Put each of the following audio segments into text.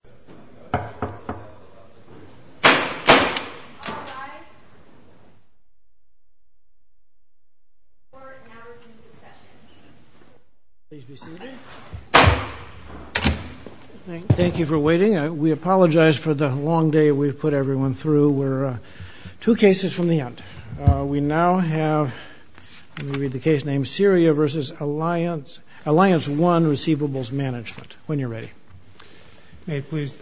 AllianceOne Rec. Mgmt., Inc. May it please the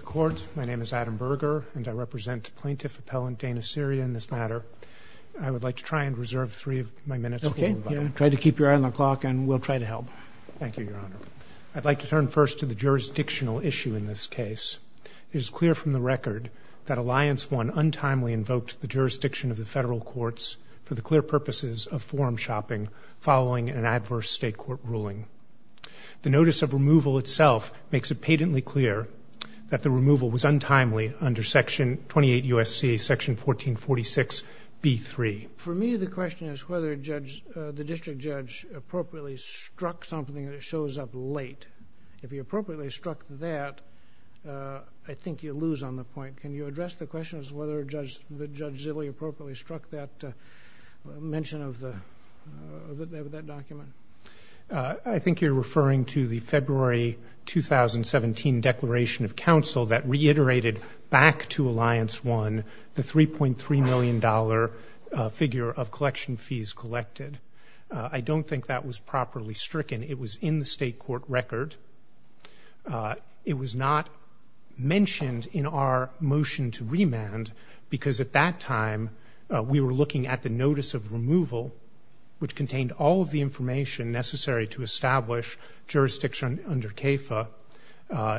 Court, my name is Adam Berger, and I represent Plaintiff Appellant Dana Syria in this matter. I would like to try and reserve three of my minutes. Okay, try to keep your eye on the clock, and we'll try to help. Thank you, Your Honor. I'd like to turn first to the jurisdictional issue in this case. It is clear from the record that AllianceOne untimely invoked the jurisdiction of the federal courts for the clear purposes of forum shopping following an adverse state court ruling. The notice of removal itself makes it patently clear that the removal was untimely under Section 28 U.S.C. 1446 B.3. For me, the question is whether the district judge appropriately struck something that shows up late. If he appropriately struck that, I think you lose on the point. Can you address the question as to whether Judge Zilley appropriately struck that mention of that document? I think you're referring to the February 2017 Declaration of Counsel that reiterated back to AllianceOne the $3.3 million figure of collection fees collected. I don't think that was properly stricken. It was in the state court record. It was not mentioned in our motion to remand because at that time we were looking at the notice of removal, which contained all of the information necessary to establish jurisdiction under CAFA,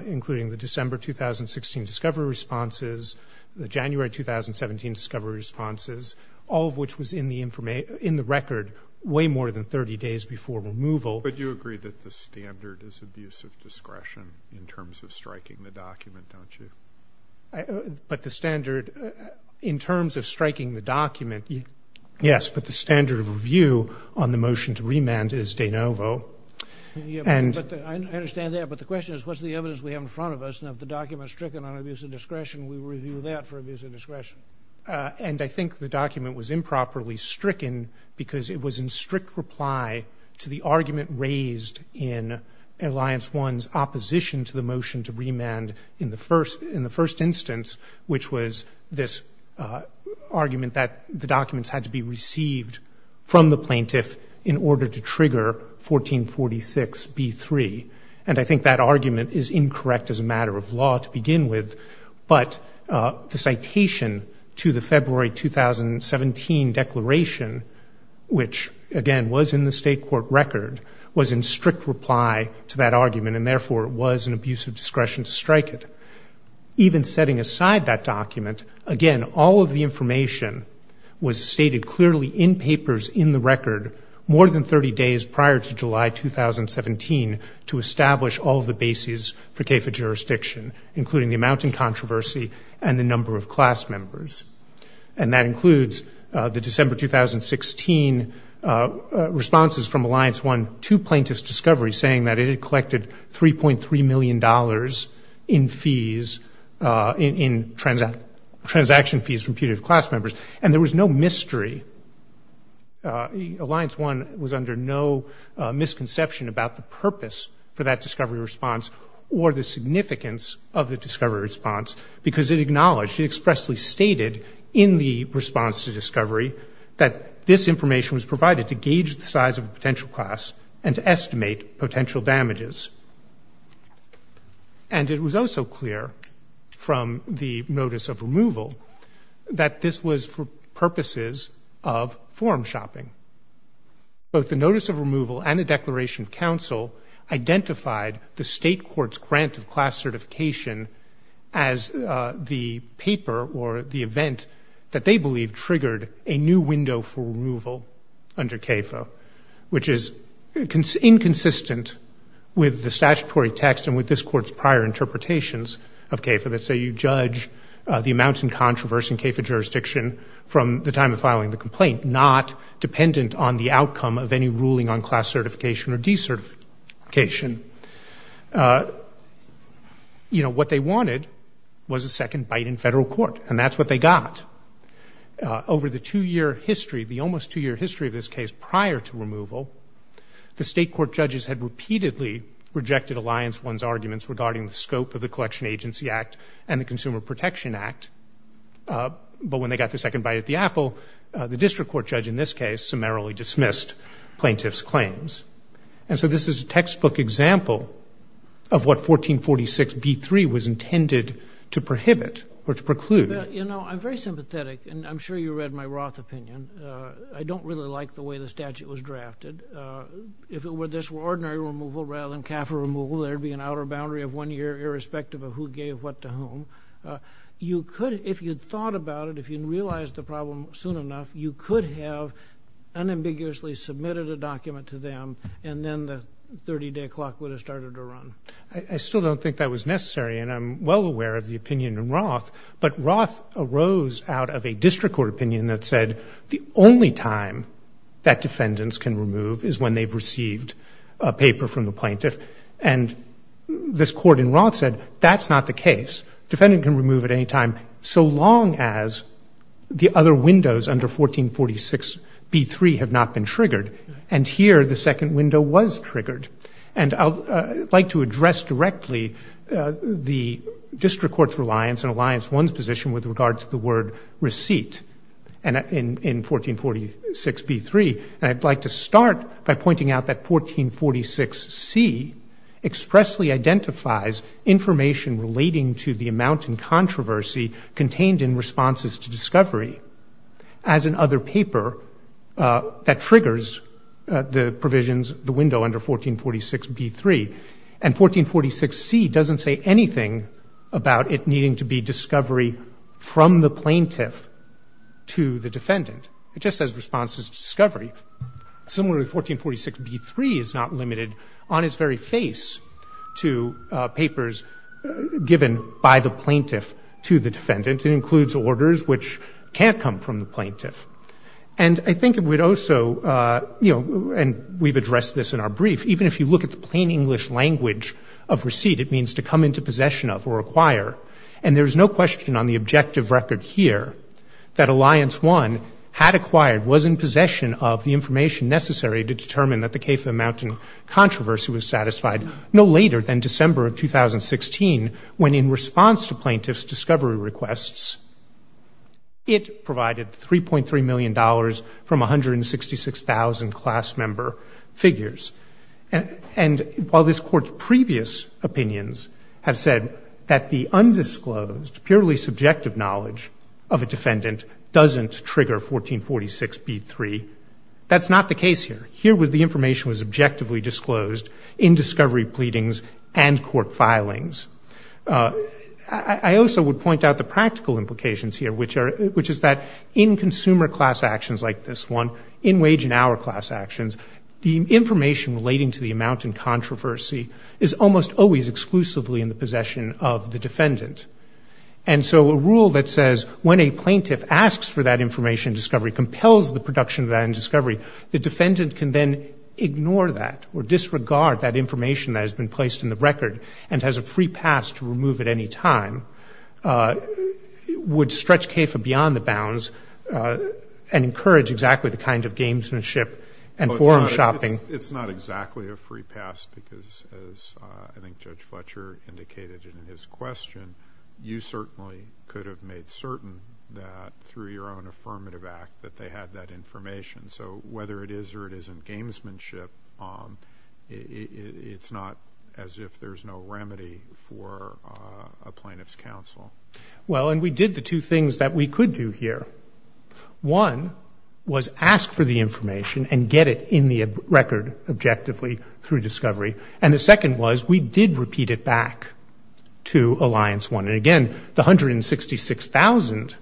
including the December 2016 discovery responses, the January 2017 discovery responses, all of which was in the record way more than 30 days before removal. But you agree that the standard is abuse of discretion in terms of striking the document, don't you? But the standard in terms of striking the document, yes. But the standard of review on the motion to remand is de novo. I understand that. But the question is what's the evidence we have in front of us, and if the document is stricken on abuse of discretion, we review that for abuse of discretion. And I think the document was improperly stricken because it was in strict reply to the argument raised in AllianceOne's opposition to the motion to remand in the first instance, which was this argument that the documents had to be received from the plaintiff in order to trigger 1446B3. And I think that argument is incorrect as a matter of law to begin with. But the citation to the February 2017 declaration, which, again, was in the state court record, was in strict reply to that argument and, therefore, was an abuse of discretion to strike it. Even setting aside that document, again, all of the information was stated clearly in papers in the record more than 30 days prior to July 2017 to establish all of the bases for CAFA jurisdiction, including the amount in controversy and the number of class members. And that includes the December 2016 responses from AllianceOne to plaintiff's discovery, saying that it had collected $3.3 million in fees, in transaction fees from punitive class members. And there was no mystery. AllianceOne was under no misconception about the purpose for that discovery response or the significance of the discovery response because it acknowledged, it expressly stated in the response to discovery that this information was provided to gauge the size of a potential class and to estimate potential damages. And it was also clear from the notice of removal that this was for purposes of form shopping. Both the notice of removal and the declaration of counsel identified the state court's grant of class certification as the paper or the event that they believed triggered a new window for removal under CAFA, which is inconsistent with the statutory text and with this court's prior interpretations of CAFA. Let's say you judge the amount in controversy in CAFA jurisdiction from the time of filing the complaint, not dependent on the outcome of any ruling on class certification or decertification. You know, what they wanted was a second bite in federal court, and that's what they got. Over the two-year history, the almost two-year history of this case prior to removal, the state court judges had repeatedly rejected AllianceOne's arguments regarding the scope of the Collection Agency Act and the Consumer Protection Act, but when they got the second bite at the apple, the district court judge in this case summarily dismissed plaintiff's claims. And so this is a textbook example of what 1446b3 was intended to prohibit or to preclude. You know, I'm very sympathetic, and I'm sure you read my Roth opinion. I don't really like the way the statute was drafted. If it were this ordinary removal rather than CAFA removal, there would be an outer boundary of one year irrespective of who gave what to whom. You could, if you'd thought about it, if you'd realized the problem soon enough, you could have unambiguously submitted a document to them, and then the 30-day clock would have started to run. I still don't think that was necessary, and I'm well aware of the opinion in Roth, but Roth arose out of a district court opinion that said the only time that defendants can remove is when they've received a paper from the plaintiff. And this court in Roth said that's not the case. Defendant can remove at any time so long as the other windows under 1446b3 have not been triggered. And here the second window was triggered. And I'd like to address directly the district court's reliance and Alliance 1's position with regard to the word receipt in 1446b3, and I'd like to start by pointing out that 1446c expressly identifies information relating to the amount in controversy contained in responses to discovery as an other paper that triggers the provisions, the window under 1446b3. And 1446c doesn't say anything about it needing to be discovery from the plaintiff to the defendant. It just says responses to discovery. Similarly, 1446b3 is not limited on its very face to papers given by the plaintiff to the defendant. It includes orders which can't come from the plaintiff. And I think it would also, you know, and we've addressed this in our brief, even if you look at the plain English language of receipt, it means to come into possession of or acquire. And there's no question on the objective record here that Alliance 1 had acquired, was in possession of the information necessary to determine that the case amounting controversy was satisfied no later than December of 2016 when in response to plaintiff's discovery requests, it provided $3.3 million from 166,000 class member figures. And while this Court's previous opinions have said that the undisclosed, purely subjective knowledge of a defendant doesn't trigger 1446b3, that's not the case here. Here the information was objectively disclosed in discovery pleadings and court filings. I also would point out the practical implications here, which is that in consumer class actions like this one, in wage and hour class actions, the information relating to the amount in controversy is almost always exclusively in the possession of the defendant. And so a rule that says when a plaintiff asks for that information in discovery, compels the production of that in discovery, the defendant can then ignore that or disregard that information that has been placed in the record and has a free pass to remove at any time, would stretch CAFA beyond the bounds and encourage exactly the kind of gamesmanship and forum shopping. It's not exactly a free pass because, as I think Judge Fletcher indicated in his question, you certainly could have made certain that through your own affirmative act that they had that information. So whether it is or it isn't gamesmanship, it's not as if there's no remedy for a plaintiff's counsel. Well, and we did the two things that we could do here. One was ask for the information and get it in the record objectively through discovery. And the second was we did repeat it back to Alliance 1. And again, the 166,000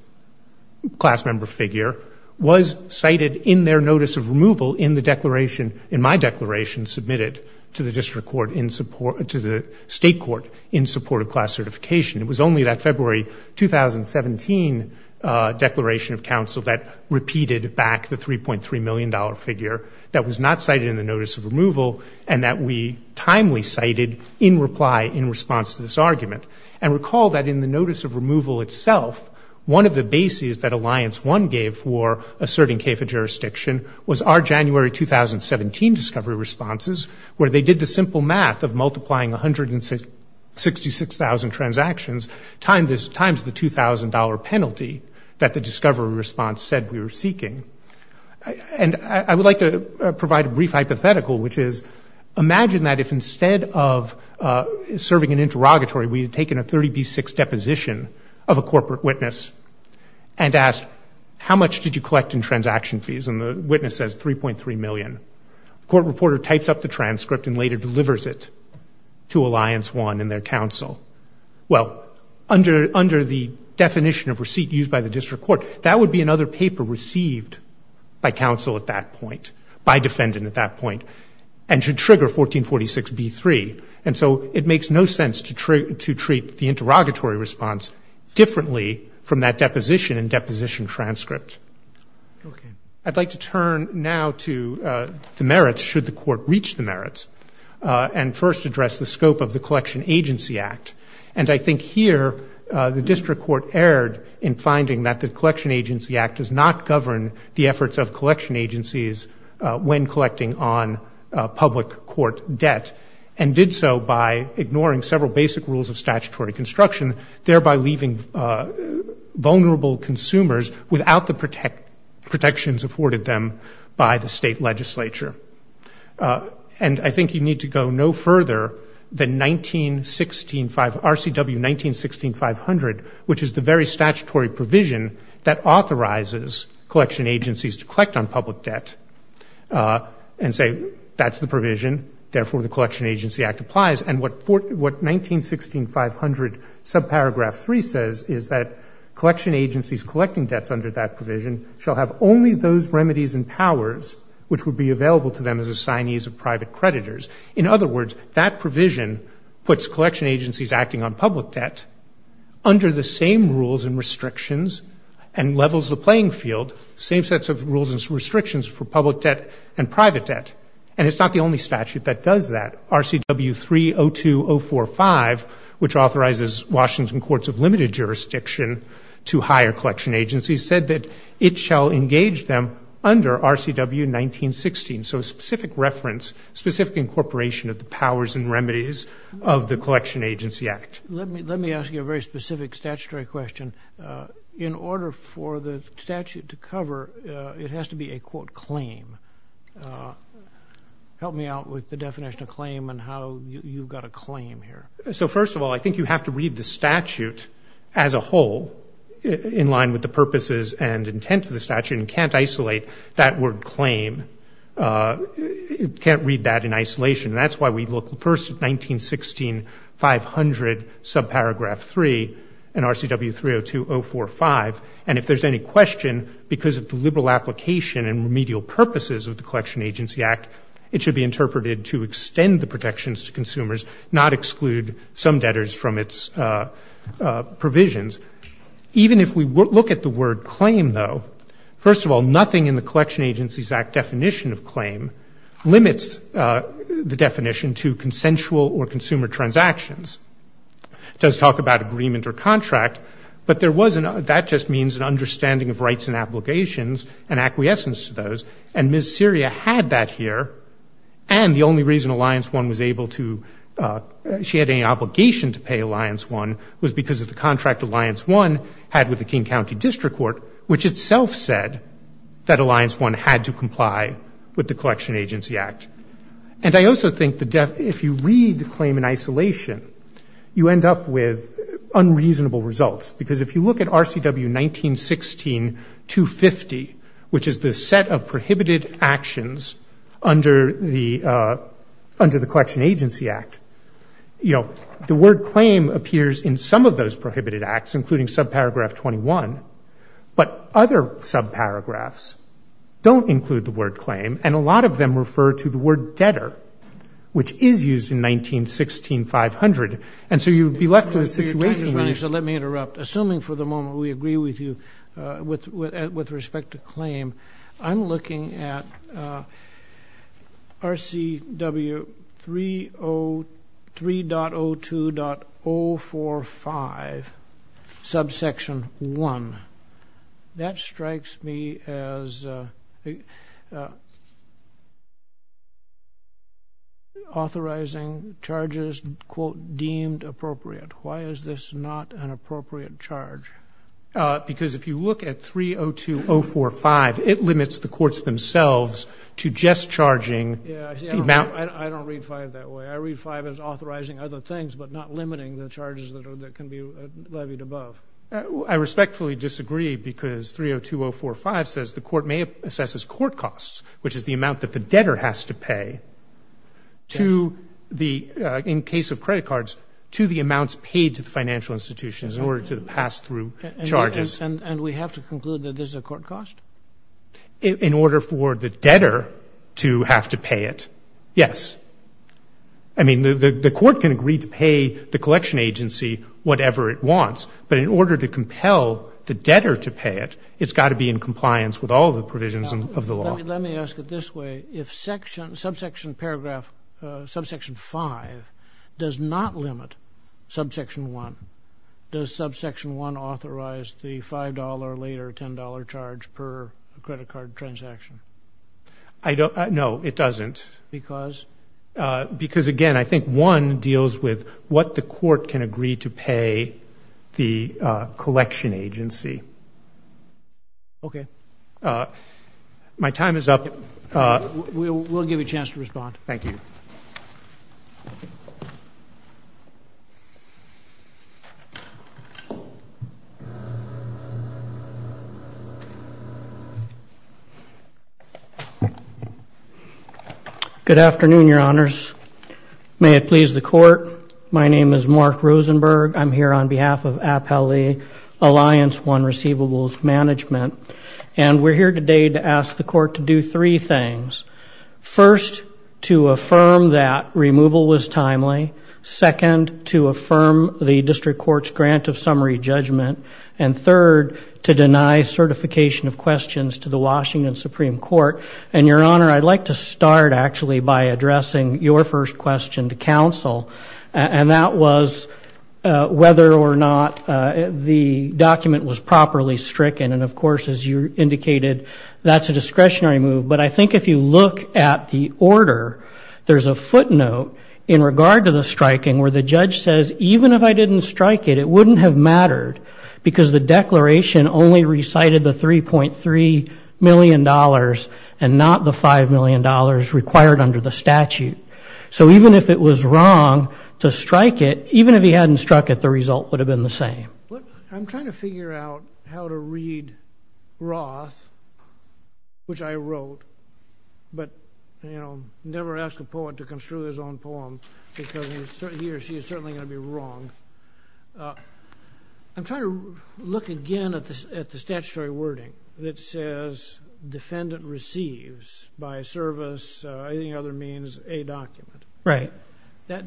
class member figure was cited in their notice of removal in the declaration, in my declaration submitted to the district court in support, to the state court in support of class certification. It was only that February 2017 declaration of counsel that repeated back the $3.3 million figure that was not cited in the notice of removal and that we timely cited in reply in response to this argument. And recall that in the notice of removal itself, one of the bases that Alliance 1 gave for asserting CAFA jurisdiction was our January 2017 discovery responses, where they did the simple math of multiplying 166,000 transactions times the $2,000 penalty that the discovery response said we were seeking. And I would like to provide a brief hypothetical, which is imagine that if instead of serving an interrogatory, we had taken a 30B6 deposition of a corporate witness and asked, how much did you collect in transaction fees? And the witness says $3.3 million. The court reporter types up the transcript and later delivers it to Alliance 1 and their counsel. Well, under the definition of receipt used by the district court, that would be another paper received by counsel at that point, by defendant at that point, and should trigger 1446B3. And so it makes no sense to treat the interrogatory response differently from that deposition and deposition transcript. I'd like to turn now to the merits, should the court reach the merits, and first address the scope of the Collection Agency Act. And I think here the district court erred in finding that the Collection Agency Act does not govern the efforts of collection agencies when collecting on public court debt, and did so by ignoring several basic rules of statutory construction, thereby leaving vulnerable consumers without the protections afforded them by the state legislature. And I think you need to go no further than RCW 1916.500, which is the very statutory provision that authorizes collection agencies to collect on public debt and say, that's the provision, therefore the Collection Agency Act applies. And what 1916.500 subparagraph 3 says is that collection agencies collecting debts under that provision shall have only those remedies and powers which would be available to them as assignees of private creditors. In other words, that provision puts collection agencies acting on public debt under the same rules and restrictions and levels the playing field, same sets of rules and restrictions for public debt and private debt. And it's not the only statute that does that. RCW 302045, which authorizes Washington courts of limited jurisdiction to hire collection agencies, said that it shall engage them under RCW 1916. So a specific reference, specific incorporation of the powers and remedies of the Collection Agency Act. Let me ask you a very specific statutory question. In order for the statute to cover, it has to be a, quote, claim. Help me out with the definition of claim and how you've got a claim here. So first of all, I think you have to read the statute as a whole in line with the purposes and intent of the statute, and you can't isolate that word claim. You can't read that in isolation, and that's why we look first at 1916.500 subparagraph 3 and RCW 302045. And if there's any question, because of the liberal application and remedial purposes of the Collection Agency Act, it should be interpreted to extend the protections to consumers, not exclude some debtors from its provisions. Even if we look at the word claim, though, first of all, nothing in the Collection Agency Act definition of claim limits the definition to consensual or consumer transactions. It does talk about agreement or contract, but that just means an understanding of rights and obligations and acquiescence to those. And Ms. Seria had that here, and the only reason Alliance 1 was able to ‑‑ she had any obligation to pay Alliance 1 was because of the contract Alliance 1 had with the King County District Court, which itself said that Alliance 1 had to comply with the Collection Agency Act. And I also think if you read the claim in isolation, you end up with unreasonable results, because if you look at RCW 1916.250, which is the set of prohibited actions under the Collection Agency Act, you know, the word claim appears in some of those prohibited acts, including subparagraph 21, but other subparagraphs don't include the word claim, and a lot of them refer to the word debtor, which is used in 1916.500. And so you would be left with a situation where you ‑‑ let me interrupt. Assuming for the moment we agree with you with respect to claim, I'm looking at RCW 3.02.045, subsection 1. That strikes me as authorizing charges, quote, deemed appropriate. Why is this not an appropriate charge? Because if you look at 3.02.045, it limits the courts themselves to just charging ‑‑ Yeah, I don't read 5 that way. I read 5 as authorizing other things, but not limiting the charges that can be levied above. I respectfully disagree, because 3.02.045 says the court may assess as court costs, which is the amount that the debtor has to pay to the, in case of credit cards, to the amounts paid to the financial institutions in order to pass through charges. And we have to conclude that this is a court cost? In order for the debtor to have to pay it, yes. I mean, the court can agree to pay the collection agency whatever it wants, but in order to compel the debtor to pay it, it's got to be in compliance with all the provisions of the law. Let me ask it this way. If subsection paragraph ‑‑ subsection 5 does not limit subsection 1, does subsection 1 authorize the $5 later $10 charge per credit card transaction? No, it doesn't. Because? Because, again, I think 1 deals with what the court can agree to pay the collection agency. Okay. My time is up. We'll give you a chance to respond. Thank you. Good afternoon, Your Honors. May it please the court, my name is Mark Rosenberg. I'm here on behalf of Appellee Alliance 1 Receivables Management. And we're here today to ask the court to do three things. First, to affirm that removal was timely. Second, to affirm the district court's grant of summary judgment. And third, to deny certification of questions to the Washington Supreme Court. And, Your Honor, I'd like to start, actually, by addressing your first question to counsel. And that was whether or not the document was properly stricken. And, of course, as you indicated, that's a discretionary move. But I think if you look at the order, there's a footnote in regard to the striking where the judge says even if I didn't strike it, it wouldn't have mattered because the declaration only recited the $3.3 million and not the $5 million required under the statute. So even if it was wrong to strike it, even if he hadn't struck it, the result would have been the same. I'm trying to figure out how to read Roth, which I wrote. But, you know, never ask a poet to construe his own poem because he or she is certainly going to be wrong. I'm trying to look again at the statutory wording that says defendant receives by service, anything other means, a document. That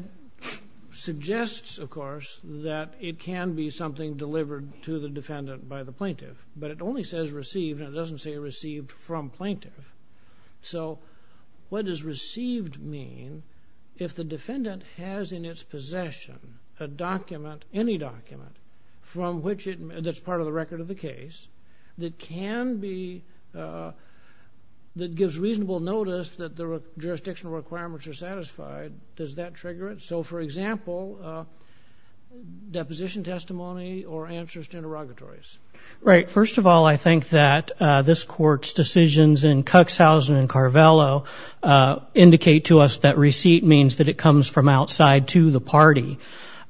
suggests, of course, that it can be something delivered to the defendant by the plaintiff. But it only says received, and it doesn't say received from plaintiff. So what does received mean? If the defendant has in its possession a document, any document, that's part of the record of the case, that gives reasonable notice that the jurisdictional requirements are satisfied, does that trigger it? So, for example, deposition testimony or answers to interrogatories. Right. First of all, I think that this Court's decisions in Cuxhausen and Carvello indicate to us that receipt means that it comes from outside to the party.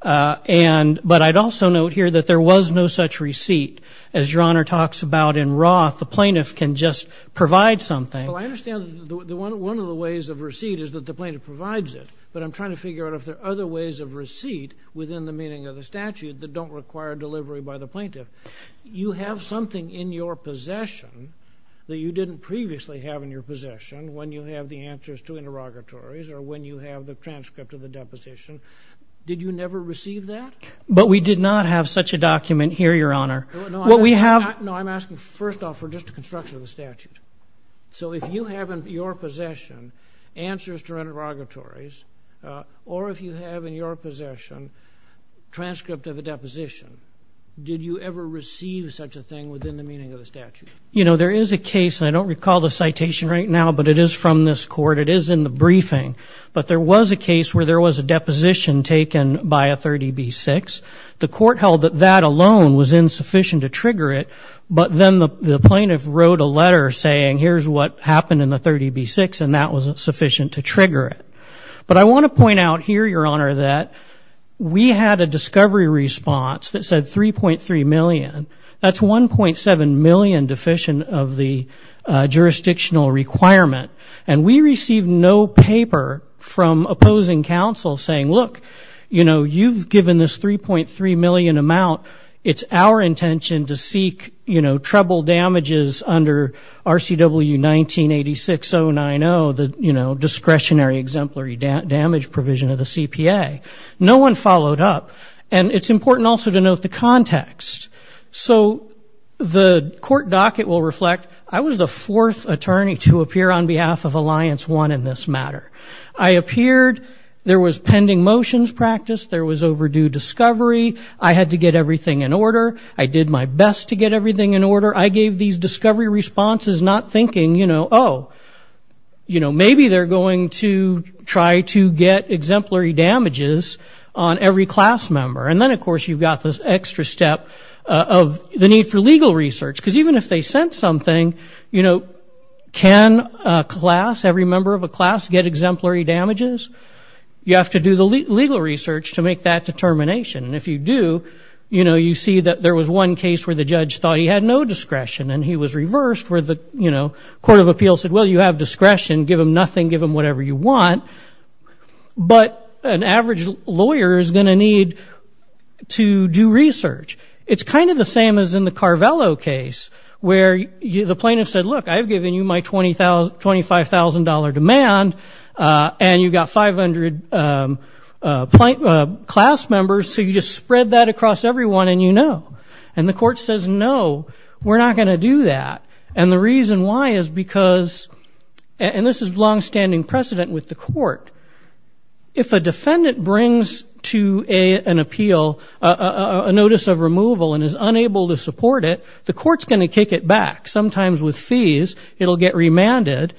But I'd also note here that there was no such receipt. As Your Honor talks about in Roth, the plaintiff can just provide something. Well, I understand one of the ways of receipt is that the plaintiff provides it, but I'm trying to figure out if there are other ways of receipt within the meaning of the statute that don't require delivery by the plaintiff. You have something in your possession that you didn't previously have in your possession when you have the answers to interrogatories or when you have the transcript of the deposition. Did you never receive that? But we did not have such a document here, Your Honor. No, I'm asking first off for just a construction of the statute. So if you have in your possession answers to interrogatories or if you have in your possession transcript of a deposition, did you ever receive such a thing within the meaning of the statute? You know, there is a case, and I don't recall the citation right now, but it is from this court. It is in the briefing. But there was a case where there was a deposition taken by a 30B-6. The court held that that alone was insufficient to trigger it, but then the plaintiff wrote a letter saying, here's what happened in the 30B-6, and that was sufficient to trigger it. But I want to point out here, Your Honor, that we had a discovery response that said 3.3 million. That's 1.7 million deficient of the jurisdictional requirement. And we received no paper from opposing counsel saying, look, you know, you've given this 3.3 million amount. It's our intention to seek, you know, treble damages under RCW 1986-090, the, you know, discretionary exemplary damage provision of the CPA. No one followed up. And it's important also to note the context. So the court docket will reflect, I was the fourth attorney to appear on behalf of Alliance 1 in this matter. I appeared. There was pending motions practiced. There was overdue discovery. I had to get everything in order. I did my best to get everything in order. I gave these discovery responses not thinking, you know, oh, you know, maybe they're going to try to get exemplary damages on every class member. And then, of course, you've got this extra step of the need for legal research. Because even if they sent something, you know, can a class, every member of a class get exemplary damages? You have to do the legal research to make that determination. And if you do, you know, you see that there was one case where the judge thought he had no discretion. You have discretion. Give them nothing. Give them whatever you want. But an average lawyer is going to need to do research. It's kind of the same as in the Carvello case where the plaintiff said, look, I've given you my $25,000 demand and you've got 500 class members, so you just spread that across everyone and you know. And the court says, no, we're not going to do that. And the reason why is because, and this is longstanding precedent with the court, if a defendant brings to an appeal a notice of removal and is unable to support it, the court's going to kick it back, sometimes with fees. It'll get remanded.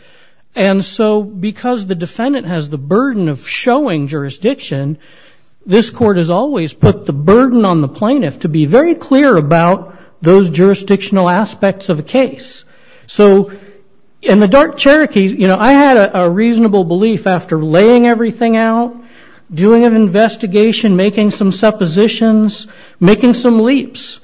And so because the defendant has the burden of showing jurisdiction, this court has always put the burden on the plaintiff to be very clear about those So in the Dart-Cherokee, I had a reasonable belief after laying everything out, doing an investigation, making some suppositions, making some leaps,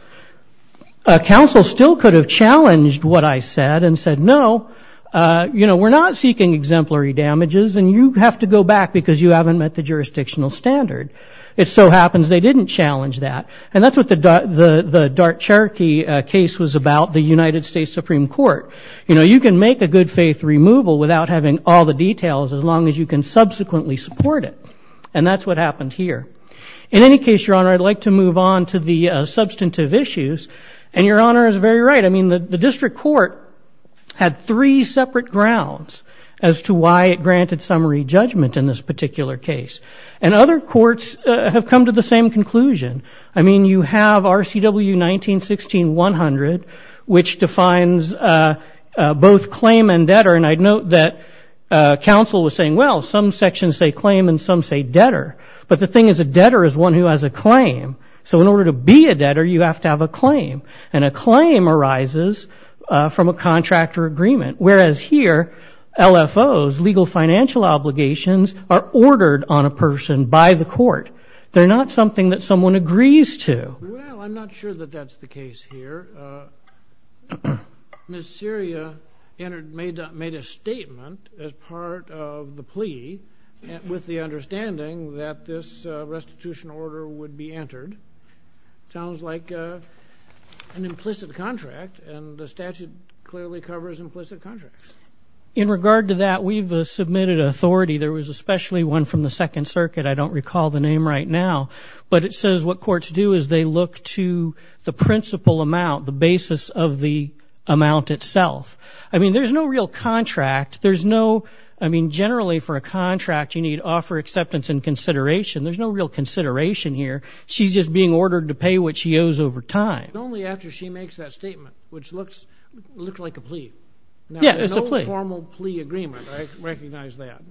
counsel still could have challenged what I said and said, no, we're not seeking exemplary damages and you have to go back because you haven't met the jurisdictional standard. It so happens they didn't challenge that. And that's what the Dart-Cherokee case was about, the United States Supreme Court. You know, you can make a good faith removal without having all the details as long as you can subsequently support it. And that's what happened here. In any case, Your Honor, I'd like to move on to the substantive issues. And Your Honor is very right. I mean, the district court had three separate grounds as to why it granted summary judgment in this particular case. And other courts have come to the same conclusion. I mean, you have RCW 1916-100, which defines both claim and debtor. And I note that counsel was saying, well, some sections say claim and some say debtor. But the thing is a debtor is one who has a claim. So in order to be a debtor, you have to have a claim. And a claim arises from a contractor agreement. Whereas here, LFOs, legal financial obligations, are ordered on a person by the court. They're not something that someone agrees to. Well, I'm not sure that that's the case here. Ms. Syria made a statement as part of the plea with the understanding that this restitution order would be entered. Sounds like an implicit contract. And the statute clearly covers implicit contracts. In regard to that, we've submitted authority. There was especially one from the Second Circuit. I don't recall the name right now. But it says what courts do is they look to the principal amount, the basis of the amount itself. I mean, there's no real contract. There's no, I mean, generally for a contract, you need to offer acceptance and consideration. There's no real consideration here. She's just being ordered to pay what she owes over time. But only after she makes that statement, which looks like a plea. Yeah, it's a plea. Now, there's no formal plea agreement. I recognize that.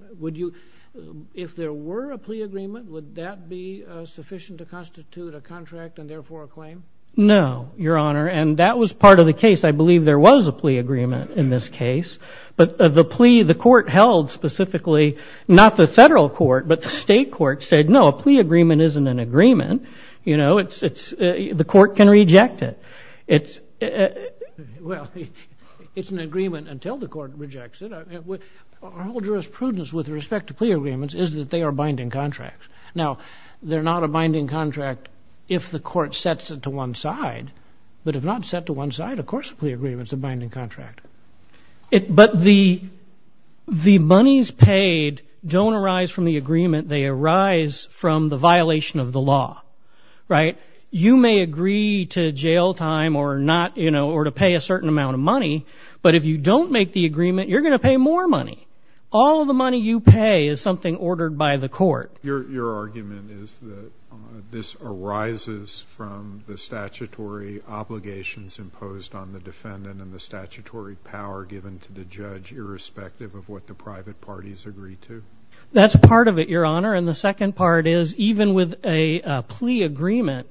If there were a plea agreement, would that be sufficient to constitute a contract and therefore a claim? No, Your Honor, and that was part of the case. I believe there was a plea agreement in this case. But the plea the court held specifically, not the federal court, but the state court said, no, a plea agreement isn't an agreement. You know, the court can reject it. Well, it's an agreement until the court rejects it. Our whole jurisprudence with respect to plea agreements is that they are binding contracts. Now, they're not a binding contract if the court sets it to one side. But if not set to one side, of course a plea agreement is a binding contract. But the monies paid don't arise from the agreement. They arise from the violation of the law, right? You may agree to jail time or to pay a certain amount of money, but if you don't make the agreement, you're going to pay more money. All of the money you pay is something ordered by the court. Your argument is that this arises from the statutory obligations imposed on the defendant and the statutory power given to the judge irrespective of what the private parties agree to. That's part of it, Your Honor. And the second part is even with a plea agreement,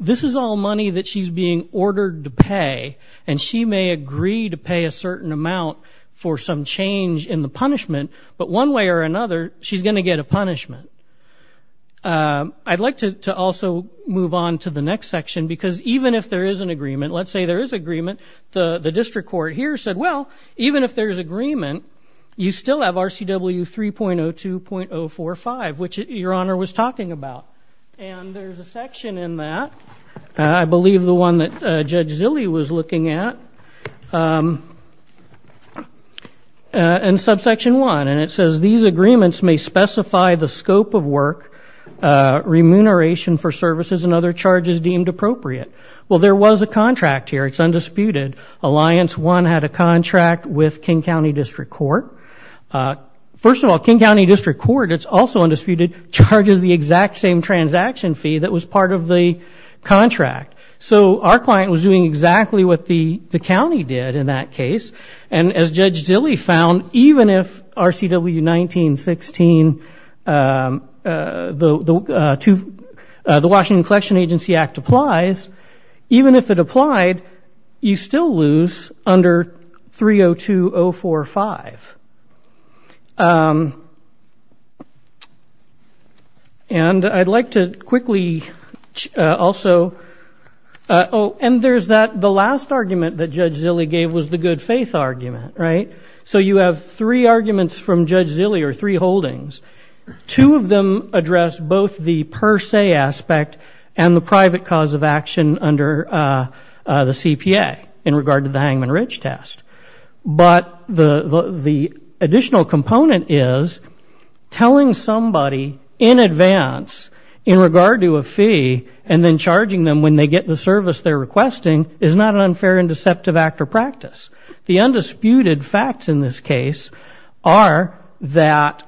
this is all money that she's being ordered to pay, and she may agree to pay a certain amount for some change in the punishment, but one way or another, she's going to get a punishment. I'd like to also move on to the next section because even if there is an agreement, let's say there is an agreement, the district court here said, well, even if there's agreement, you still have RCW 3.02.045, which Your Honor was talking about. And there's a section in that, I believe the one that Judge Zille was looking at, in subsection 1, and it says, these agreements may specify the scope of work, remuneration for services, and other charges deemed appropriate. Well, there was a contract here. It's undisputed. Alliance 1 had a contract with King County District Court. First of all, King County District Court, it's also undisputed, charges the exact same transaction fee that was part of the contract. So our client was doing exactly what the county did in that case. And as Judge Zille found, even if RCW 1916, the Washington Collection Agency Act applies, even if it applied, you still lose under 3.02.045. And I'd like to quickly also, oh, and there's that, the last argument that Judge Zille gave was the good faith argument, right? So you have three arguments from Judge Zille, or three holdings. Two of them address both the per se aspect and the private cause of action under the CPA in regard to the Hangman Ridge test. But the additional component is telling somebody in advance in regard to a fee and then charging them when they get the service they're requesting is not an unfair and deceptive act or practice. The undisputed facts in this case are that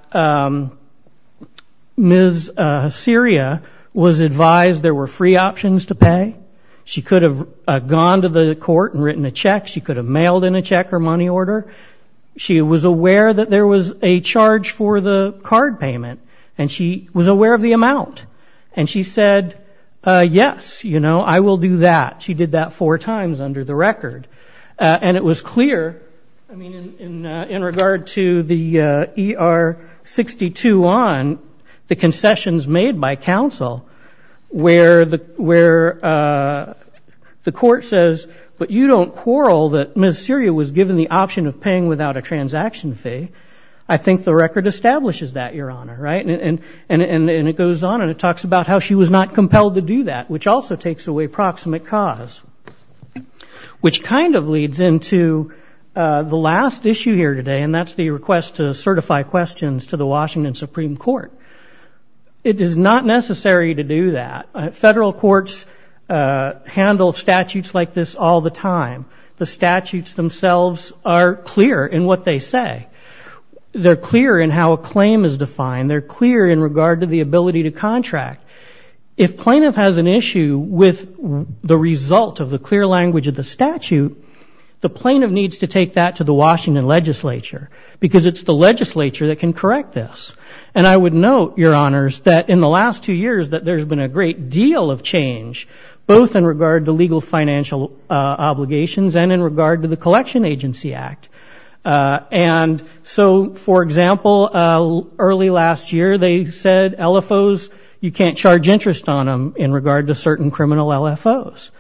Ms. Syria was advised there were free options to pay. She could have gone to the court and written a check. She could have mailed in a check or money order. She was aware that there was a charge for the card payment, and she was aware of the amount. And she said, yes, you know, I will do that. She did that four times under the record. And it was clear, I mean, in regard to the ER 62 on, the concessions made by counsel where the court says, but you don't quarrel that Ms. Syria was given the option of paying without a transaction fee. I think the record establishes that, Your Honor, right? And it goes on and it talks about how she was not compelled to do that, which also takes away proximate cause, which kind of leads into the last issue here today, and that's the request to certify questions to the Washington Supreme Court. It is not necessary to do that. Federal courts handle statutes like this all the time. The statutes themselves are clear in what they say. They're clear in how a claim is defined. They're clear in regard to the ability to contract. If plaintiff has an issue with the result of the clear language of the statute, the plaintiff needs to take that to the Washington legislature because it's the legislature that can correct this. And I would note, Your Honors, that in the last two years that there's been a great deal of change, both in regard to legal financial obligations and in regard to the Collection Agency Act. And so, for example, early last year they said LFOs, you can't charge interest on them in regard to certain criminal LFOs.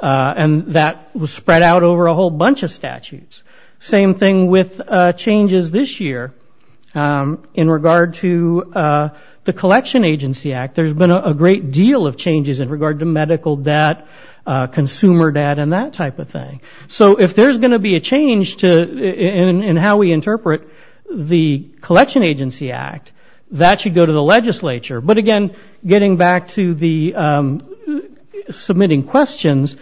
And that was spread out over a whole bunch of statutes. Same thing with changes this year in regard to the Collection Agency Act. There's been a great deal of changes in regard to medical debt, consumer debt, and that type of thing. So if there's going to be a change in how we interpret the Collection Agency Act, that should go to the legislature. But again, getting back to the submitting questions,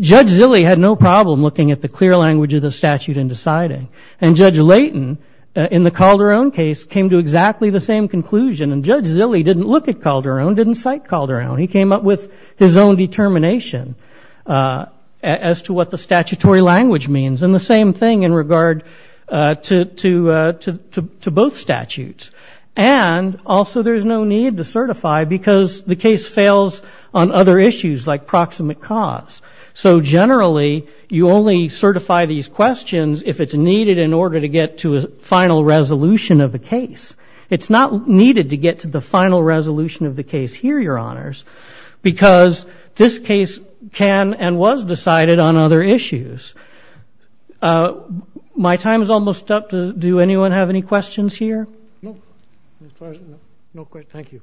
Judge Zille had no problem looking at the clear language of the statute and deciding. And Judge Layton, in the Calderon case, came to exactly the same conclusion. And Judge Zille didn't look at Calderon, didn't cite Calderon. He came up with his own determination as to what the statutory language means. And the same thing in regard to both statutes. And also, there's no need to certify because the case fails on other issues like proximate cause. So generally, you only certify these questions if it's needed in order to get to a final resolution of the case. It's not needed to get to the final resolution of the case here, Your Honors, because this case can and was decided on other issues. My time is almost up. Do anyone have any questions here? No. No questions. Thank you.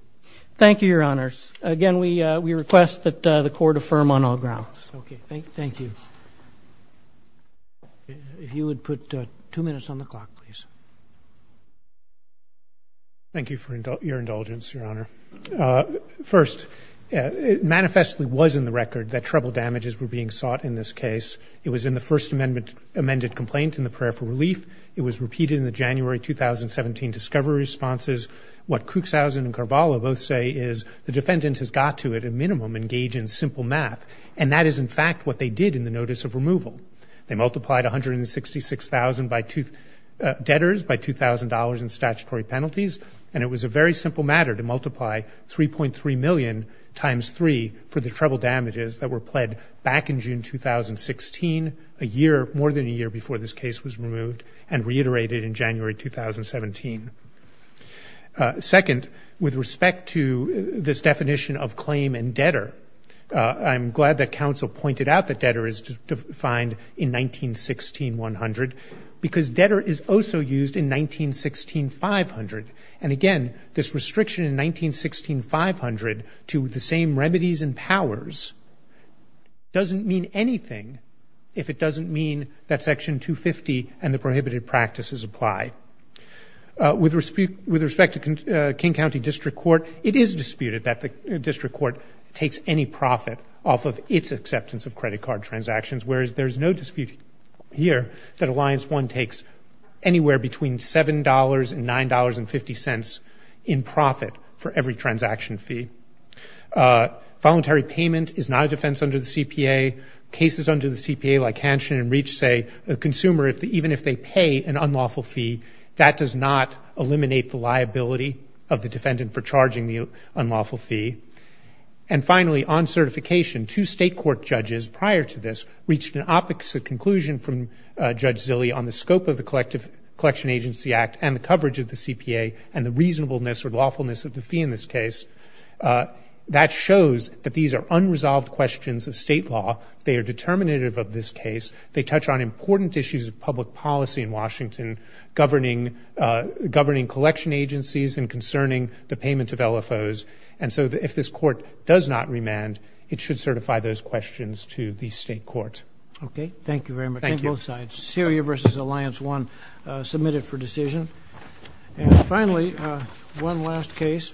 Thank you, Your Honors. Again, we request that the Court affirm on all grounds. Okay. Thank you. If you would put two minutes on the clock, please. Thank you for your indulgence, Your Honor. First, it manifestly was in the record that treble damages were being sought in this case. It was in the first amended complaint in the prayer for relief. It was repeated in the January 2017 discovery responses. What Cuxhausen and Carvalho both say is the defendant has got to, at a minimum, engage in simple math. And that is, in fact, what they did in the notice of removal. They multiplied $166,000 debtors by $2,000 in statutory penalties. And it was a very simple matter to multiply 3.3 million times 3 for the treble damages that were pled back in June 2016, a year, more than a year, before this case was removed and reiterated in January 2017. Second, with respect to this definition of claim and debtor, I'm glad that counsel pointed out that debtor is defined in 1916-100, because debtor is also used in 1916-500. And, again, this restriction in 1916-500 to the same remedies and powers doesn't mean anything if it doesn't mean that Section 250 and the prohibited practices apply. With respect to King County District Court, it is disputed that the district court takes any profit off of its acceptance of credit card transactions, whereas there is no dispute here that Alliance 1 takes anywhere between $7 and $9.50 in profit for every transaction fee. Voluntary payment is not a defense under the CPA. Cases under the CPA, like Hanshin and Reach, say a consumer, even if they pay an unlawful fee, that does not eliminate the liability of the defendant for charging the unlawful fee. And, finally, on certification, two state court judges prior to this reached an opposite conclusion from Judge Zille on the scope of the Collection Agency Act and the coverage of the CPA and the reasonableness or lawfulness of the fee in this case. That shows that these are unresolved questions of state law. They are determinative of this case. They touch on important issues of public policy in Washington, governing collection agencies and concerning the payment of LFOs. And so if this court does not remand, it should certify those questions to the state court. Okay. Thank you very much on both sides. Syria v. Alliance 1 submitted for decision. And, finally, one last case.